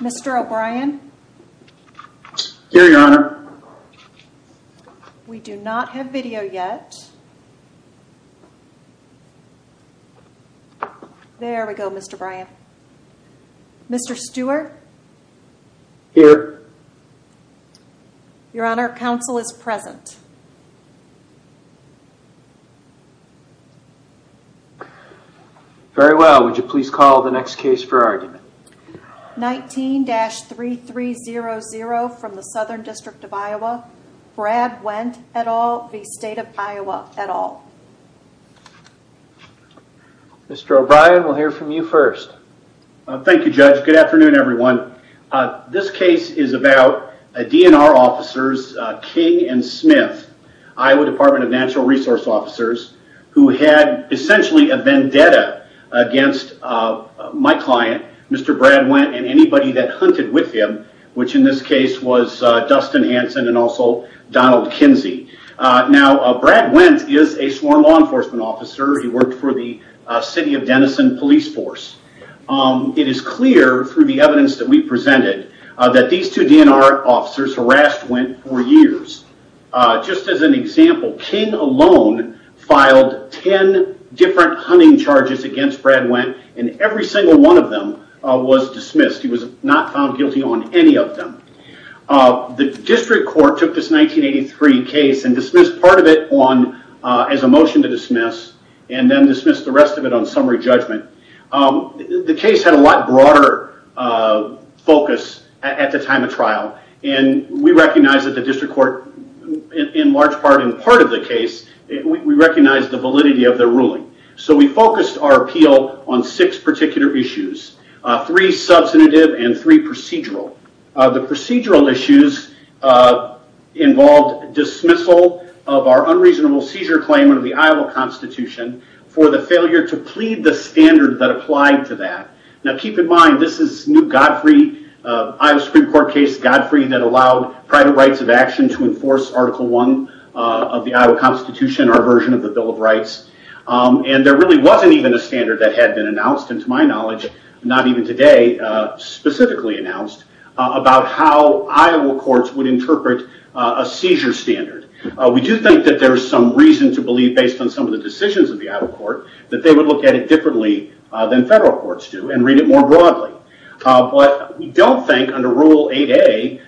Mr. O'Brien? Here, Your Honor. We do not have video yet. There we go, Mr. O'Brien. Mr. Stewart? Here. Your Honor, counsel is present. Very well. Would you please call the next case for argument? 19-3300 from the Southern District of Iowa. Brad Wendt et al v. State of Iowa et al. Mr. O'Brien, we'll hear from you first. Thank you, Judge. Good afternoon, everyone. This case is about DNR officers King and Smith, Iowa Department of Natural Resource Officers, who had essentially a vendetta against my client, Mr. Brad Wendt, and anybody that hunted with him, which in this case was Dustin Hanson and also Donald Kinsey. Now, Brad Wendt is a sworn law enforcement officer. He worked for the City of Denison Police Force. It is clear through the evidence that we presented that these two DNR officers harassed Wendt for years. Just as an example, King alone filed ten different hunting charges against Brad Wendt, and every single one of them was dismissed. He was not found guilty on any of them. The District Court took this 1983 case and dismissed part of it as a motion to dismiss, and then dismissed the rest of it on summary judgment. The case had a lot broader focus at the time of trial, and we recognized that the District Court, in large part, in part of the case, we recognized the validity of their ruling. We focused our appeal on six particular issues, three substantive and three procedural. The procedural issues involved dismissal of our unreasonable seizure claim under the Iowa Constitution for the failure to plead the standard that applied to that. Now, keep in mind, this is new Godfrey, Iowa Supreme Court case, Godfrey, that allowed private rights of action to enforce Article 1 of the Iowa Constitution, our version of the Bill of Rights. There really wasn't even a standard that had been announced, and to my knowledge, not even today specifically announced, about how Iowa courts would interpret a seizure standard. We do think that there's some reason to believe, based on some of the decisions of the Iowa court, that they would look at it differently than federal courts do, and read it more broadly. We don't think, under Rule 8A,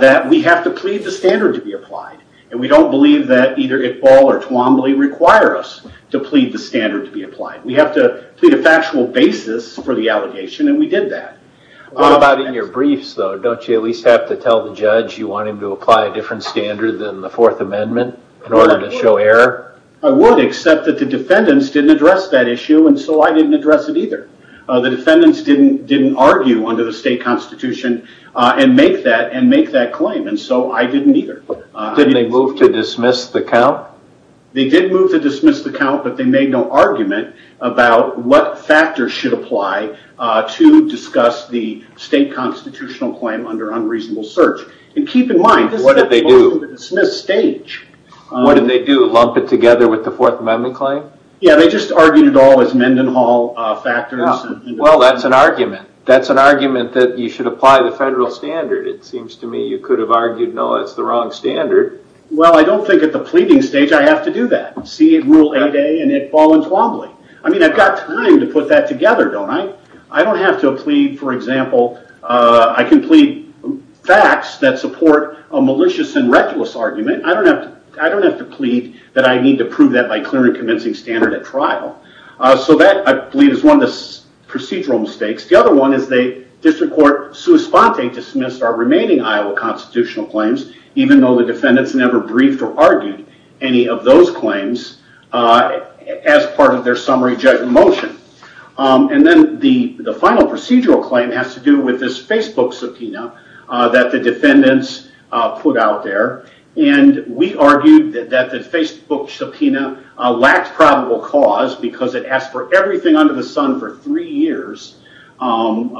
that we have to plead the standard to be applied. We don't believe that either Iqbal or Twombly require us to plead the standard to be applied. We have to plead a factual basis for the allegation, and we did that. What about in your briefs, though? Don't you at least have to tell the judge you want him to apply a different standard than the Fourth Amendment in order to show error? I would, except that the defendants didn't address that issue, and so I didn't address it either. The defendants didn't argue under the state constitution and make that claim, and so I didn't either. Didn't they move to dismiss the count? They did move to dismiss the count, but they made no argument about what factors should apply to discuss the state constitutional claim under unreasonable search. Keep in mind, this is a motion to dismiss stage. What did they do? Lump it together with the Fourth Amendment claim? Yeah, they just argued it all as Mendenhall factors. Well, that's an argument. That's an argument that you should apply the federal standard. It seems to me you could have argued, no, that's the wrong standard. Well, I don't think at the pleading stage I have to do that. See Rule 8A and Iqbal and Twombly. I've got time to put that together, don't I? I don't have to plead, for example, I can plead facts that support a malicious and reckless argument. I don't have to plead that I need to prove that by clearing a convincing standard at trial. That, I believe, is one of the procedural mistakes. The other one is they, District Court, sui sponte, dismissed our remaining Iowa constitutional claims, even though the defendants never briefed or argued any of those claims as part of their summary judgment motion. Then the final procedural claim has to do with this Facebook subpoena that the defendants put out there. We argued that the Facebook subpoena lacked probable cause because it asked for everything under the sun for three years on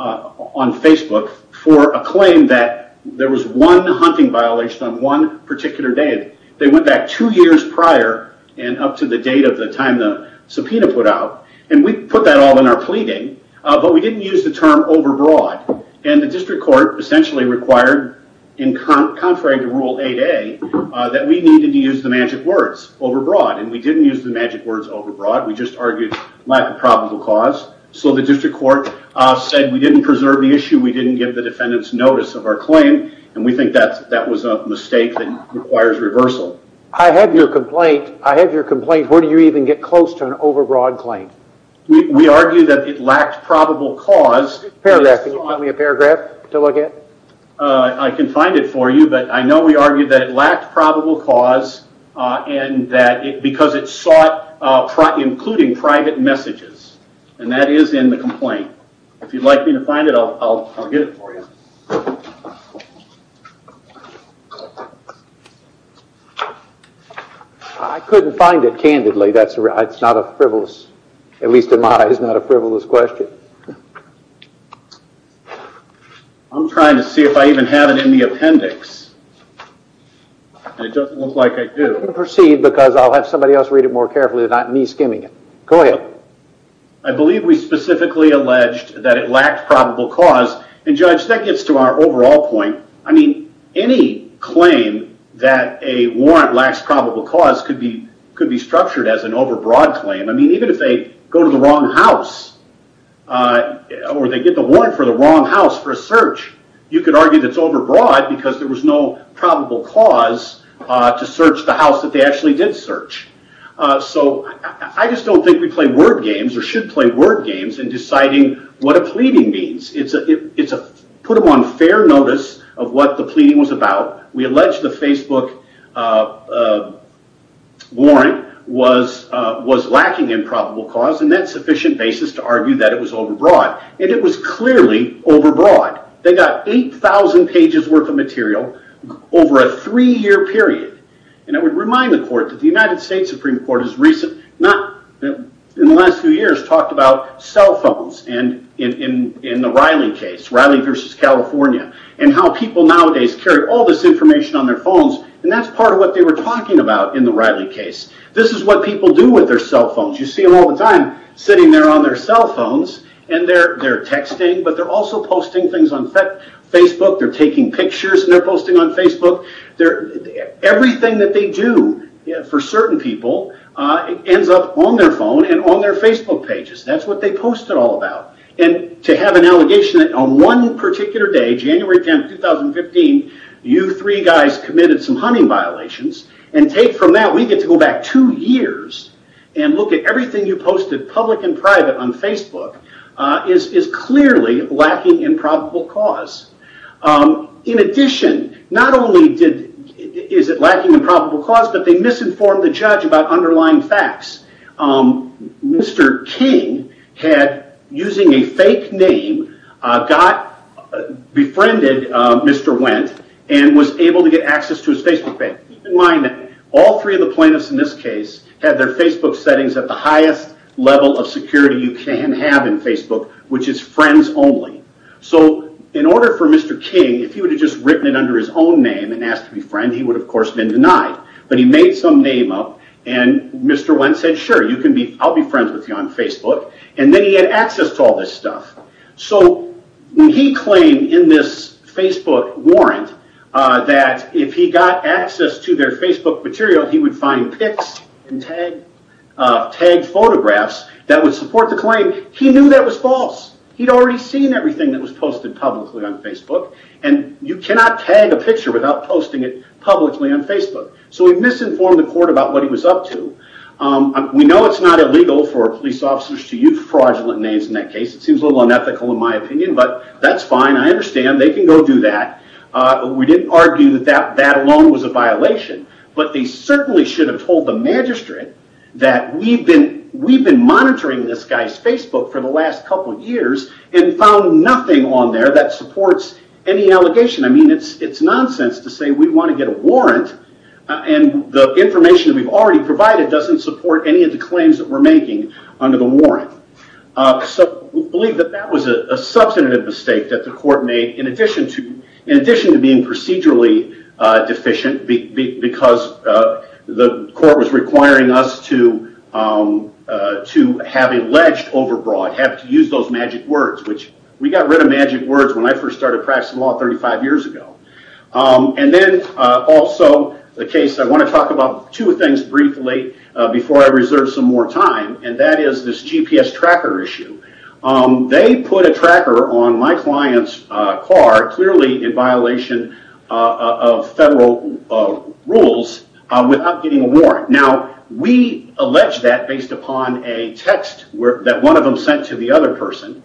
Facebook for a claim that there was one hunting violation on one particular day. They went back two years prior and up to the date of the time the subpoena put out. We put that all in our pleading, but we didn't use the term overbroad. The District Court essentially required, contrary to Rule 8A, that we needed to use the magic words, overbroad. We didn't use the magic words overbroad, we just argued lack of probable cause. The District Court said we didn't preserve the issue, we didn't give the defendants notice of our claim, and we think that was a mistake that requires reversal. I have your complaint, where do you even get close to an overbroad claim? We argue that it lacked probable cause. Can you give me a paragraph to look at? I can find it for you, but I know we argued that it lacked probable cause because it sought including private messages. That is in the complaint. If you'd like me to find it, I'll get it for you. I couldn't find it, candidly, that's not a frivolous, at least in my eyes, not a frivolous question. I'm trying to see if I even have it in the appendix, and it doesn't look like I do. Proceed, because I'll have somebody else read it more carefully than me skimming it. Go ahead. I believe we specifically alleged that it lacked probable cause, and Judge, that gets to our overall point, any claim that a warrant lacks probable cause could be structured as an overbroad claim. Even if they go to the wrong house, or they get the warrant for the wrong house for a search, you could argue that it's overbroad because there was no probable cause to search the house that they actually did search. I just don't think we play word games, or should play word games in deciding what a pleading means. It's a put them on fair notice of what the pleading was about. We allege the Facebook warrant was lacking in probable cause, and that's sufficient basis to argue that it was overbroad. It was clearly overbroad. They got 8,000 pages worth of material over a three year period. I would remind the court that the United States Supreme Court has recently, in the last few cases, in the Riley case, Riley versus California, and how people nowadays carry all this information on their phones, and that's part of what they were talking about in the Riley case. This is what people do with their cell phones. You see them all the time sitting there on their cell phones, and they're texting, but they're also posting things on Facebook. They're taking pictures, and they're posting on Facebook. Everything that they do for certain people ends up on their phone and on their Facebook pages. That's what they post it all about. To have an allegation that on one particular day, January 10, 2015, you three guys committed some hunting violations, and take from that, we get to go back two years and look at everything you posted, public and private, on Facebook, is clearly lacking in probable cause. In addition, not only is it lacking in probable cause, but they misinformed the judge about underlying facts. Mr. King, using a fake name, befriended Mr. Wendt, and was able to get access to his Facebook page. Keep in mind that all three of the plaintiffs in this case had their Facebook settings at the highest level of security you can have in Facebook, which is friends only. In order for Mr. King, if he would have just written it under his own name and asked to befriend, he would, of course, have been denied. He made some name up, and Mr. Wendt said, sure, I'll be friends with you on Facebook, and then he had access to all this stuff. He claimed in this Facebook warrant that if he got access to their Facebook material, he would find pics and tag photographs that would support the claim. He knew that was false. You cannot tag a picture without posting it publicly on Facebook, so he misinformed the court about what he was up to. We know it's not illegal for police officers to use fraudulent names in that case. It seems a little unethical in my opinion, but that's fine. I understand. They can go do that. We didn't argue that that alone was a violation, but they certainly should have told the magistrate that we've been monitoring this guy's Facebook for the last couple of years and found nothing on there that supports any allegation. It's nonsense to say we want to get a warrant, and the information that we've already provided doesn't support any of the claims that we're making under the warrant. We believe that that was a substantive mistake that the court made in addition to being procedurally deficient because the court was requiring us to have alleged overbroad, have to use those magic words. We got rid of magic words when I first started practicing law 35 years ago. Then also, the case I want to talk about two things briefly before I reserve some more time, and that is this GPS tracker issue. They put a tracker on my client's car, clearly in violation of federal rules, without getting a warrant. We allege that based upon a text that one of them sent to the other person,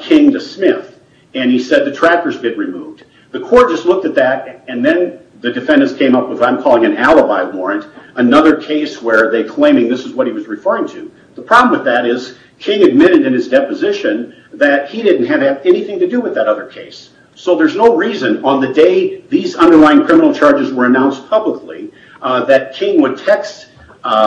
King to Smith. He said, the tracker's been removed. The court just looked at that, and then the defendants came up with what I'm calling an alibi warrant, another case where they're claiming this is what he was referring to. The problem with that is King admitted in his deposition that he didn't have anything to do with that other case. There's no reason on the day these underlying criminal charges were announced publicly that King would text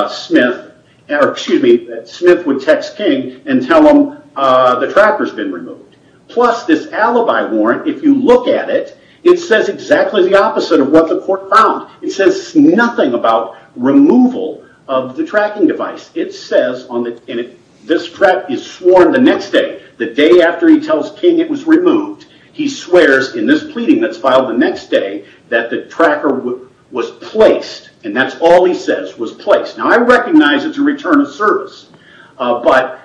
Smith, or excuse me, that Smith would text King and tell him the tracker's been removed. Plus, this alibi warrant, if you look at it, it says exactly the opposite of what the court found. It says nothing about removal of the tracking device. It says, and this track is sworn the next day, the day after he tells King it was removed, he swears in this pleading that's filed the next day that the tracker was placed, and that's all he says was placed. I recognize it's a return of service, but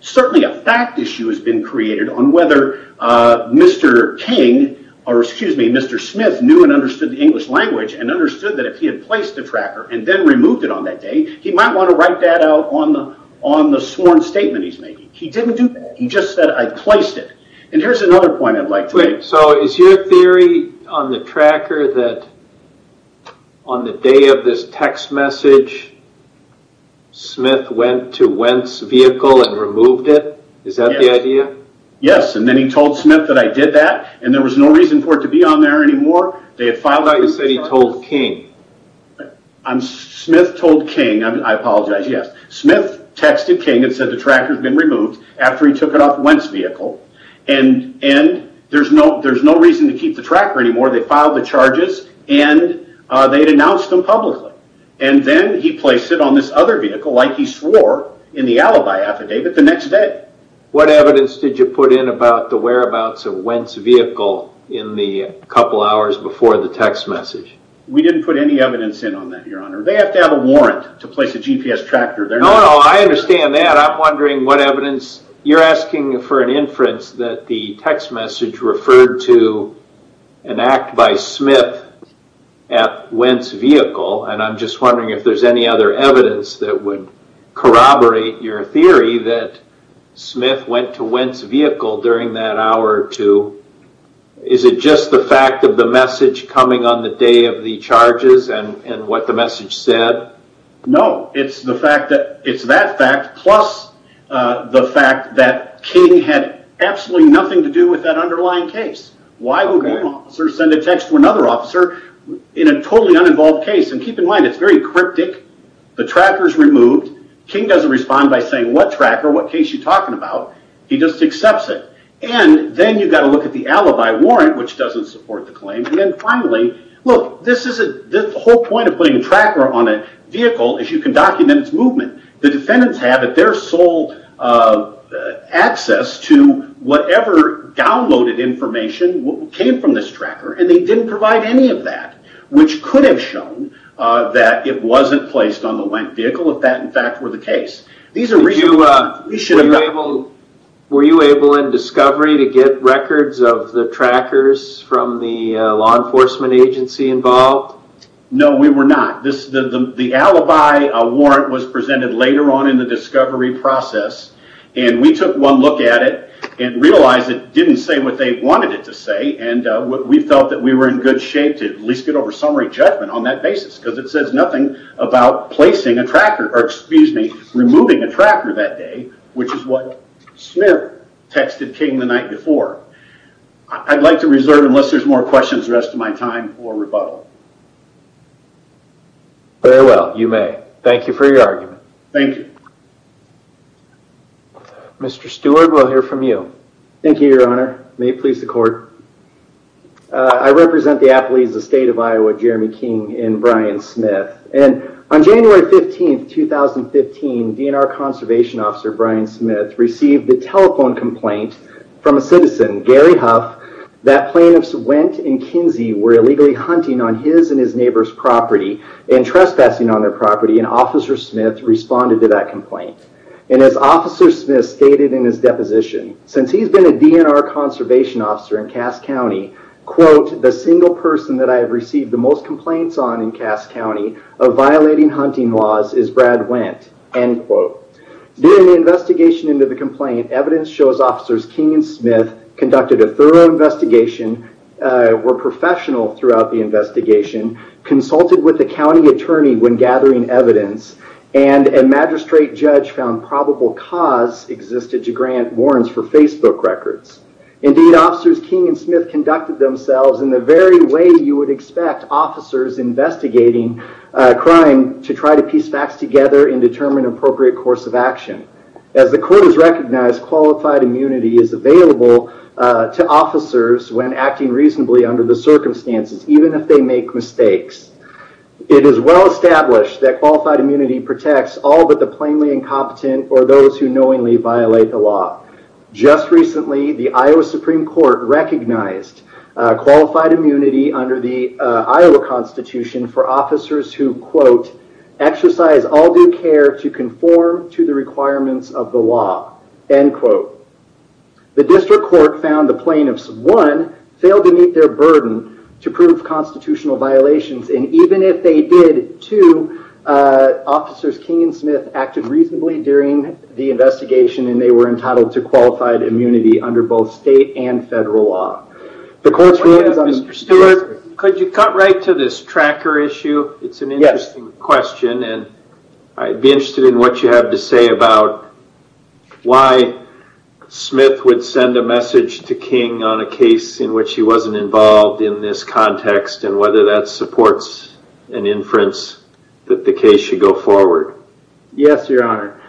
certainly a fact issue has been created on whether Mr. King, or excuse me, Mr. Smith knew and understood the English language and understood that if he had placed the tracker and then removed it on that day, he might want to write that out on the sworn statement he's making. He didn't do that. He just said, I placed it. Here's another point I'd like to make. Is your theory on the tracker that on the day of this text message, Smith went to Wendt's vehicle and removed it? Is that the idea? Yes. Then he told Smith that I did that, and there was no reason for it to be on there anymore. They had filed- How about you said he told King? Smith told King. I apologize. Yes. Smith texted King and said the tracker's been removed after he took it off Wendt's vehicle. There's no reason to keep the tracker anymore. They filed the charges, and they'd announced them publicly, and then he placed it on this other vehicle like he swore in the alibi affidavit the next day. What evidence did you put in about the whereabouts of Wendt's vehicle in the couple hours before the text message? We didn't put any evidence in on that, your honor. They have to have a warrant to place a GPS tracker there. No, no. I understand that. I'm wondering what evidence. You're asking for an inference that the text message referred to an act by Smith at Wendt's vehicle, and I'm just wondering if there's any other evidence that would corroborate your theory that Smith went to Wendt's vehicle during that hour or two. Is it just the fact of the message coming on the day of the charges and what the message said? No. It's the fact that it's that fact plus the fact that King had absolutely nothing to do with that underlying case. Why would one officer send a text to another officer in a totally uninvolved case? Keep in mind, it's very cryptic. The tracker's removed. King doesn't respond by saying, what tracker? What case you talking about? He just accepts it. Then you've got to look at the alibi warrant, which doesn't support the claim. Then finally, look, the whole point of putting a tracker on a vehicle is you can document its movement. The defendants have at their sole access to whatever downloaded information came from this tracker, and they didn't provide any of that, which could have shown that it wasn't placed on the Wendt vehicle if that, in fact, were the case. Were you able in discovery to get records of the trackers from the law enforcement agency involved? No, we were not. The alibi warrant was presented later on in the discovery process, and we took one look at it and realized it didn't say what they wanted it to say. We felt that we were in good shape to at least get over summary judgment on that basis because it says nothing about removing a tracker that day, which is what Smith texted King the night before. I'd like to reserve, unless there's more questions, the rest of my time for rebuttal. Very well, you may. Thank you for your argument. Thank you. Mr. Stewart, we'll hear from you. Thank you, Your Honor. May it please the court. I represent the Appalachian State of Iowa, Jeremy King and Brian Smith. On January 15th, 2015, DNR Conservation Officer Brian Smith received a telephone complaint from a citizen, Gary Huff, that plaintiffs Wendt and Kinsey were illegally hunting on his and his neighbor's property and trespassing on their property, and Officer Smith responded to that complaint. As Officer Smith stated in his deposition, since he's been a DNR Conservation Officer in Cass County, quote, the single person that I have received the most complaints on in Cass County of violating hunting laws is Brad Wendt, end quote. During the investigation into the complaint, evidence shows Officers King and Smith conducted a thorough investigation, were professional throughout the investigation, consulted with the county attorney when gathering evidence, and a magistrate judge found probable cause existed to grant warrants for Facebook records. Indeed, Officers King and Smith conducted themselves in the very way you would expect officers investigating a crime to try to piece facts together and determine appropriate course of action. As the court has recognized, qualified immunity is available to officers when acting reasonably under the circumstances, even if they make mistakes. It is well established that qualified immunity protects all but the plainly incompetent or those who knowingly violate the law. Just recently, the Iowa Supreme Court recognized qualified immunity under the Iowa Constitution for officers who, quote, exercise all due care to conform to the requirements of the law, end quote. The district court found the plaintiffs, one, failed to meet their burden to prove constitutional violations and even if they did, two, Officers King and Smith acted reasonably during the trial to qualify immunity under both state and federal law. The court's ruling is understood. Mr. Stewart, could you cut right to this tracker issue? It's an interesting question and I'd be interested in what you have to say about why Smith would send a message to King on a case in which he wasn't involved in this context and whether that supports an inference that the case should go forward. Yes, your honor.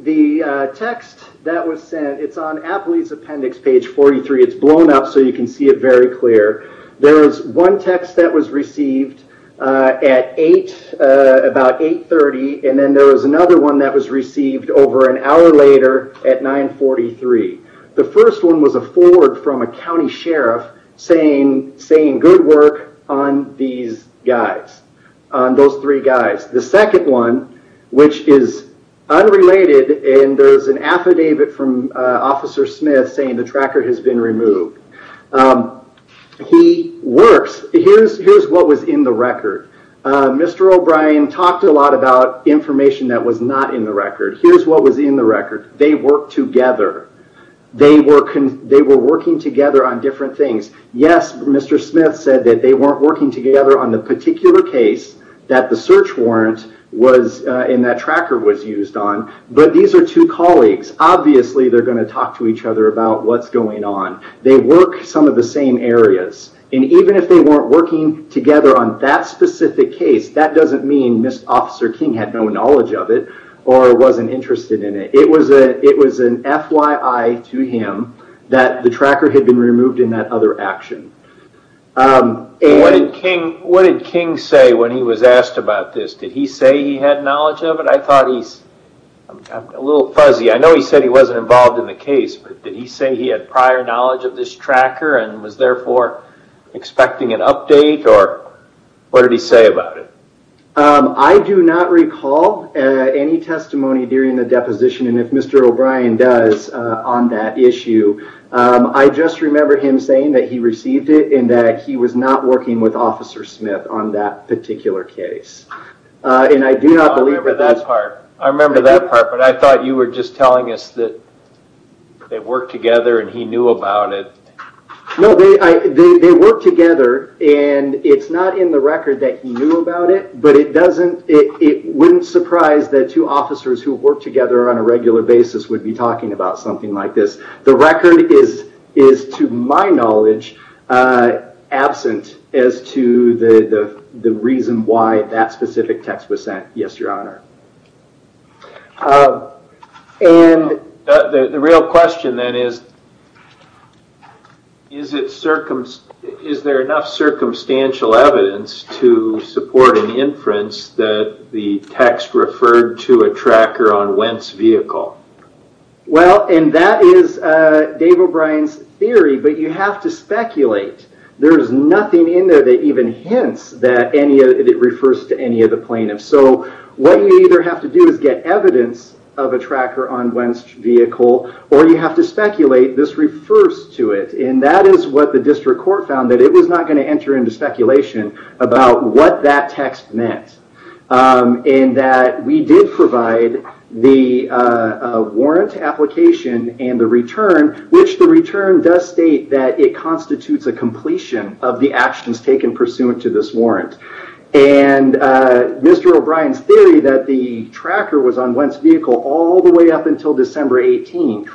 The text that was sent, it's on Appley's appendix, page 43. It's blown up so you can see it very clear. There was one text that was received at about 8.30 and then there was another one that was received over an hour later at 9.43. The first one was a forward from a county sheriff saying good work on these guys, on those three guys. The second one, which is unrelated and there's an affidavit from Officer Smith saying the tracker has been removed. He works, here's what was in the record. Mr. O'Brien talked a lot about information that was not in the record. Here's what was in the record. They worked together. They were working together on different things. Yes, Mr. Smith said that they weren't working together on the particular case that the search warrant and that tracker was used on, but these are two colleagues. Obviously, they're going to talk to each other about what's going on. They work some of the same areas. Even if they weren't working together on that specific case, that doesn't mean Mr. Officer King had no knowledge of it or wasn't interested in it. It was an FYI to him that the tracker had been removed in that other action. What did King say when he was asked about this? Did he say he had knowledge of it? I thought he's a little fuzzy. I know he said he wasn't involved in the case, but did he say he had prior knowledge of this tracker and was therefore expecting an update or what did he say about it? I do not recall any testimony during the deposition and if Mr. O'Brien does on that issue. I just remember him saying that he received it and that he was not working with Officer Smith on that particular case. I do not believe that that's- I remember that part, but I thought you were just telling us that they worked together and he knew about it. No, they worked together and it's not in the record that he knew about it, but it wouldn't surprise that two officers who work together on a regular basis would be talking about something like this. The record is, to my knowledge, absent as to the reason why that specific text was sent, yes, your honor. The real question then is, is there enough circumstantial evidence to support an inference that the text referred to a tracker on Wendt's vehicle? Well, and that is Dave O'Brien's theory, but you have to speculate. There's nothing in there that even hints that it refers to any of the plaintiffs. What you either have to do is get evidence of a tracker on Wendt's vehicle or you have to speculate this refers to it and that is what the district court found, that it was not going to enter into speculation about what that text meant. And that we did provide the warrant application and the return, which the return does state that it constitutes a completion of the actions taken pursuant to this warrant. And Mr. O'Brien's theory that the tracker was on Wendt's vehicle all the way up until December 18th,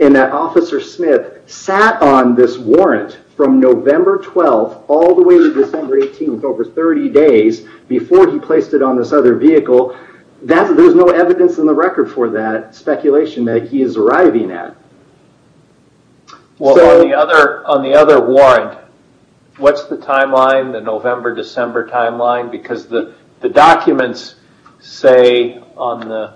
and that Officer Smith sat on this warrant from November 12th all the way to December 18th, over 30 days before he placed it on this other vehicle, there's no evidence in the record for that speculation that he is arriving at. Well, on the other warrant, what's the timeline, the November, December timeline? Because the documents say on the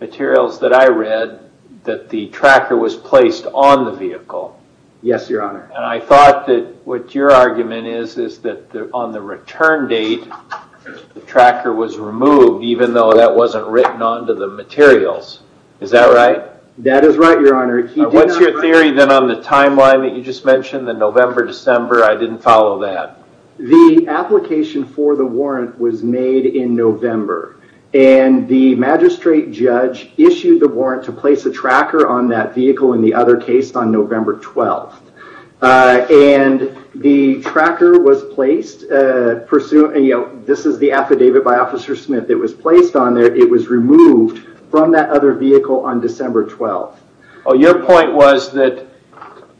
materials that I read that the tracker was placed on the vehicle. Yes, your honor. And I thought that what your argument is, is that on the return date, the tracker was removed even though that wasn't written onto the materials. Is that right? That is right, your honor. What's your theory then on the timeline that you just mentioned, the November, December, I didn't follow that. The application for the warrant was made in November and the magistrate judge issued the And the tracker was placed, this is the affidavit by Officer Smith that was placed on there, it was removed from that other vehicle on December 12th. Your point was that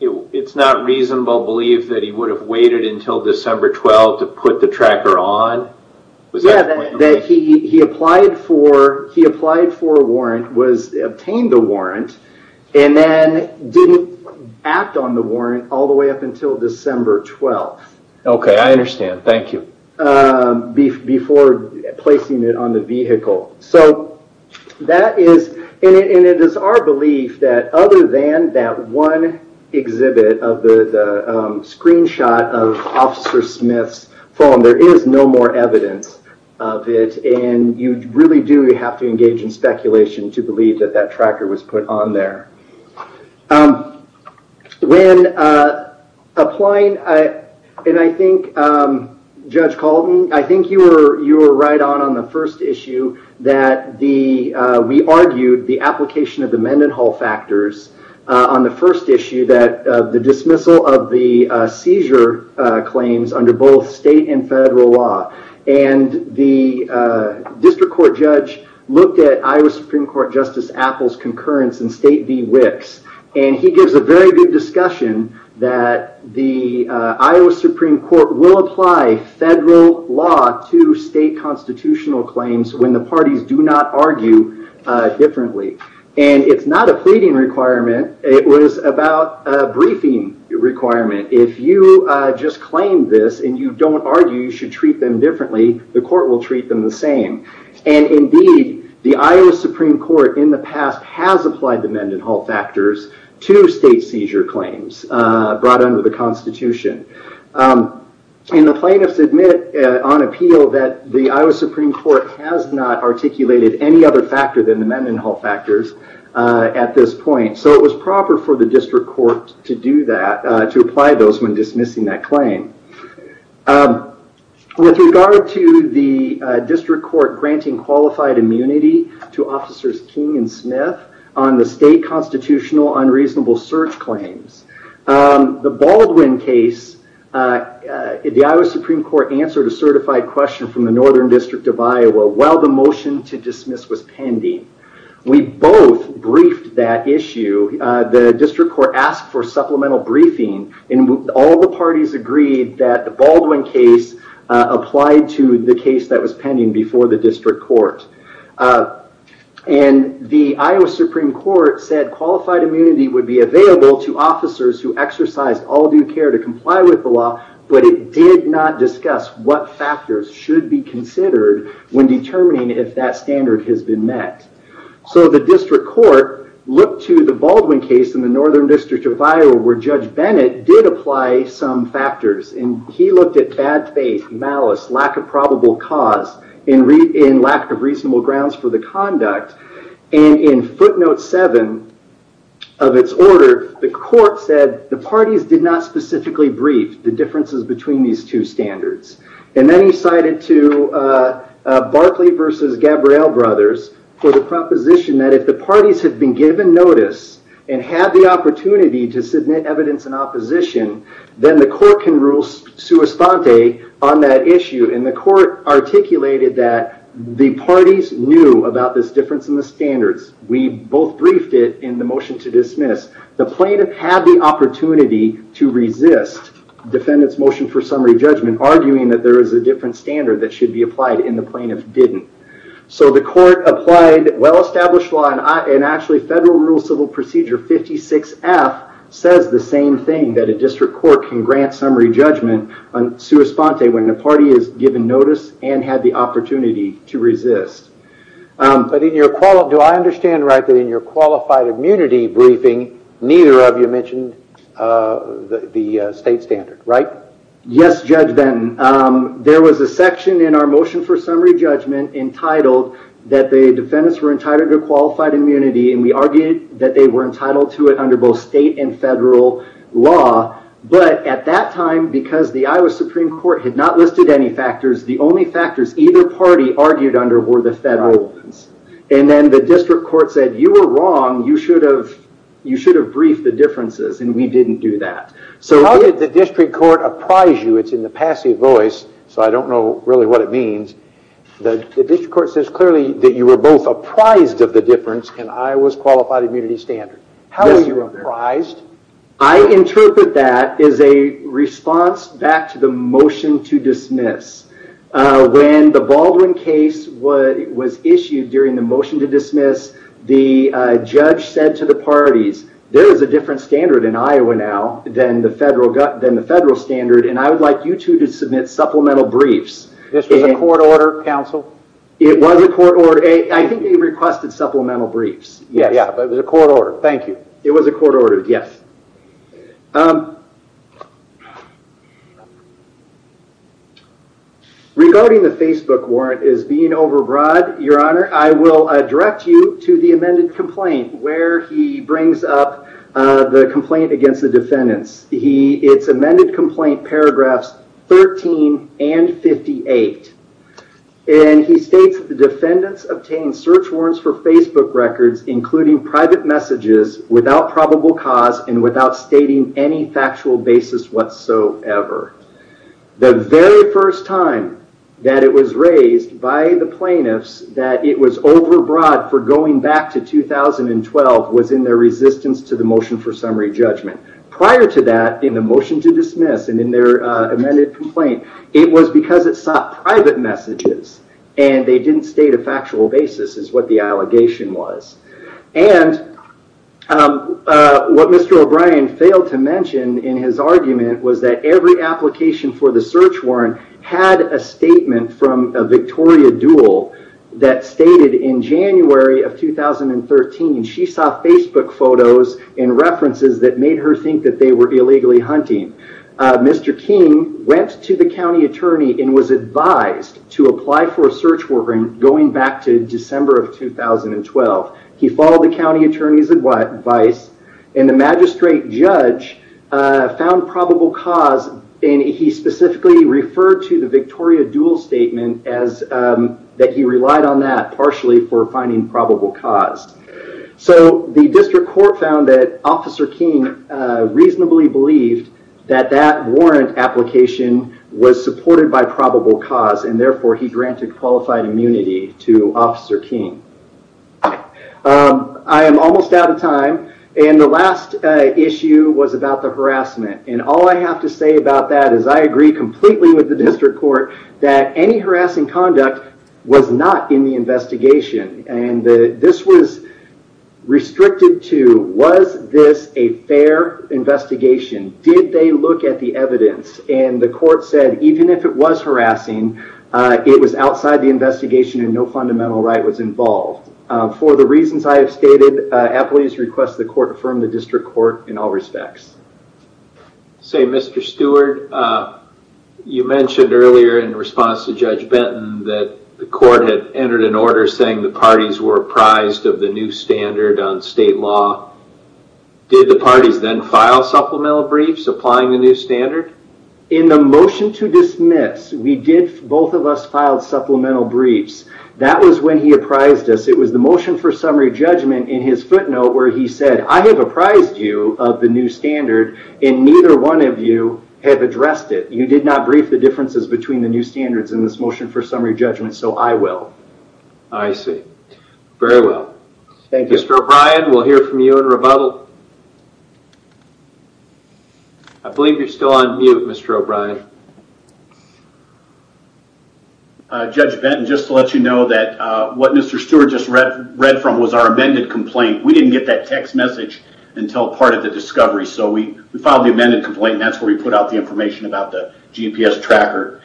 it's not reasonable to believe that he would have waited until December 12th to put the tracker on? Was that the point? That he applied for a warrant, obtained the warrant, and then didn't act on the warrant all the way up until December 12th. Okay, I understand. Thank you. Before placing it on the vehicle. That is, and it is our belief that other than that one exhibit of the screenshot of Officer Smith, there is no evidence of it, and you really do have to engage in speculation to believe that that tracker was put on there. When applying, and I think Judge Colton, I think you were right on the first issue that we argued the application of the Mendenhall factors on the first issue that the dismissal of the seizure claims under both state and federal law, and the district court judge looked at Iowa Supreme Court Justice Appel's concurrence in State v. Wicks, and he gives a very good discussion that the Iowa Supreme Court will apply federal law to state constitutional claims when the parties do not argue differently. It's not a pleading requirement, it was about a briefing requirement. If you just claim this, and you don't argue you should treat them differently, the court will treat them the same, and indeed, the Iowa Supreme Court in the past has applied the Mendenhall factors to state seizure claims brought under the Constitution. The plaintiffs admit on appeal that the Iowa Supreme Court has not articulated any other Mendenhall factors at this point, so it was proper for the district court to do that, to apply those when dismissing that claim. With regard to the district court granting qualified immunity to Officers King and Smith on the state constitutional unreasonable search claims, the Baldwin case, the Iowa Supreme Court answered a certified question from the Northern District of Iowa while the motion to dismiss was pending. We both briefed that issue, the district court asked for supplemental briefing, and all the parties agreed that the Baldwin case applied to the case that was pending before the district court. The Iowa Supreme Court said qualified immunity would be available to officers who exercise all due care to comply with the law, but it did not discuss what factors should be considered when determining if that standard has been met. The district court looked to the Baldwin case in the Northern District of Iowa where Judge Bennett did apply some factors. He looked at bad faith, malice, lack of probable cause, and lack of reasonable grounds for the conduct. In footnote seven of its order, the court said the parties did not specifically brief the differences between these two standards. Then he cited to Barclay versus Gabrielle Brothers for the proposition that if the parties had been given notice and had the opportunity to submit evidence in opposition, then the court can rule sui stante on that issue. The court articulated that the parties knew about this difference in the standards. We both briefed it in the motion to dismiss. The plaintiff had the opportunity to resist defendant's motion for summary judgment arguing that there is a different standard that should be applied and the plaintiff didn't. The court applied well-established law and actually Federal Rule Civil Procedure 56F says the same thing that a district court can grant summary judgment on sui stante when the party is given notice and had the opportunity to resist. Do I understand right that in your qualified immunity briefing, neither of you mentioned the state standard, right? Yes, Judge Benton. There was a section in our motion for summary judgment entitled that the defendants were entitled to qualified immunity and we argued that they were entitled to it under both state and federal law. At that time, because the Iowa Supreme Court had not listed any factors, the only factors either party argued under were the federal ones. And then the district court said, you were wrong, you should have briefed the differences and we didn't do that. So how did the district court apprise you, it's in the passive voice, so I don't know really what it means, the district court says clearly that you were both apprised of the difference in Iowa's qualified immunity standard. How were you apprised? I interpret that as a response back to the motion to dismiss. When the Baldwin case was issued during the motion to dismiss, the judge said to the parties, there is a different standard in Iowa now than the federal standard and I would like you two to submit supplemental briefs. This was a court order, counsel? It was a court order. I think they requested supplemental briefs. Yeah, but it was a court order, thank you. Okay, it was a court order, yes. Regarding the Facebook warrant as being overbroad, your honor, I will direct you to the amended complaint where he brings up the complaint against the defendants. It's amended complaint paragraphs 13 and 58. And he states the defendants obtained search warrants for Facebook records including private messages without probable cause and without stating any factual basis whatsoever. The very first time that it was raised by the plaintiffs that it was overbroad for going back to 2012 was in their resistance to the motion for summary judgment. Prior to that, in the motion to dismiss and in their amended complaint, it was because it sought private messages and they didn't state a factual basis is what the allegation was. And what Mr. O'Brien failed to mention in his argument was that every application for the search warrant had a statement from Victoria Duell that stated in January of 2013, she saw Facebook photos and references that made her think that they were illegally hunting. Mr. King went to the county attorney and was advised to apply for a search warrant going back to December of 2012. He followed the county attorney's advice and the magistrate judge found probable cause and he specifically referred to the Victoria Duell statement that he relied on that partially for finding probable cause. So the district court found that Officer King reasonably believed that that warrant application was supported by probable cause and therefore he granted qualified immunity to Officer King. I am almost out of time and the last issue was about the harassment. All I have to say about that is I agree completely with the district court that any harassing conduct was not in the investigation. This was restricted to was this a fair investigation? Did they look at the evidence and the court said even if it was harassing, it was outside the investigation and no fundamental right was involved. For the reasons I have stated, at least request the court from the district court in all respects. Say Mr. Stewart, you mentioned earlier in response to Judge Benton that the court had entered an order saying the parties were apprised of the new standard on state law. Did the parties then file supplemental briefs applying the new standard? In the motion to dismiss, we did, both of us filed supplemental briefs. That was when he apprised us. It was the motion for summary judgment in his footnote where he said, I have apprised you of the new standard and neither one of you have addressed it. You did not brief the differences between the new standards in this motion for summary I see. Very well. Thank you. Thank you. Mr. O'Brien, we will hear from you in rebuttal. I believe you are still on mute, Mr. O'Brien. Judge Benton, just to let you know that what Mr. Stewart just read from was our amended complaint. We did not get that text message until part of the discovery, so we filed the amended complaint and that is where we put out the information about the GPS tracker.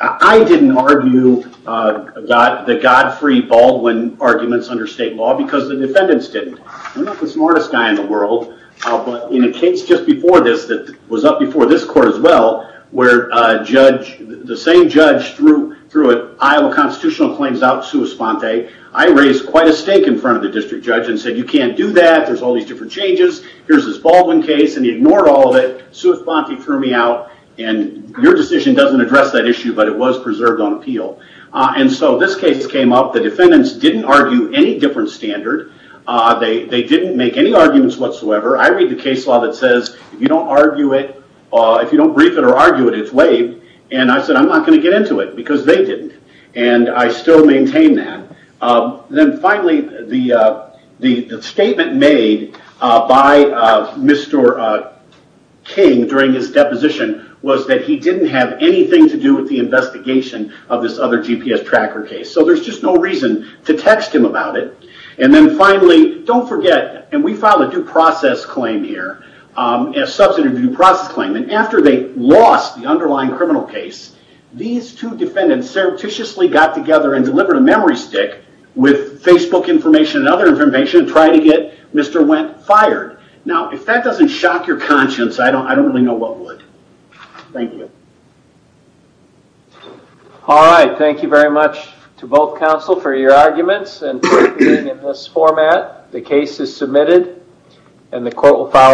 I did not argue the God-free Baldwin arguments under state law because the defendants did not. We are not the smartest guy in the world, but in a case just before this that was up before this court as well, where the same judge threw an Iowa constitutional claims out to Sua Sponte, I raised quite a stake in front of the district judge and said you can't do that. There are all these different changes. Here is this Baldwin case and he ignored all of it. Sua Sponte threw me out and your decision doesn't address that issue, but it was preserved on appeal. This case came up. The defendants didn't argue any different standard. They didn't make any arguments whatsoever. I read the case law that says if you don't argue it, if you don't brief it or argue it, it's waived. I said I'm not going to get into it because they didn't and I still maintain that. Finally, the statement made by Mr. King during his deposition was that he didn't have anything to do with the investigation of this other GPS tracker case. There's just no reason to text him about it. Finally, don't forget, we filed a due process claim here, a substantive due process claim. After they lost the underlying criminal case, these two defendants surreptitiously got together and delivered a memory stick with Facebook information and other information and tried to get Mr. Wendt fired. If that doesn't shock your conscience, I don't really know what would. Thank you. All right, thank you very much to both counsel for your arguments and for being in this format. The case is submitted and the court will follow.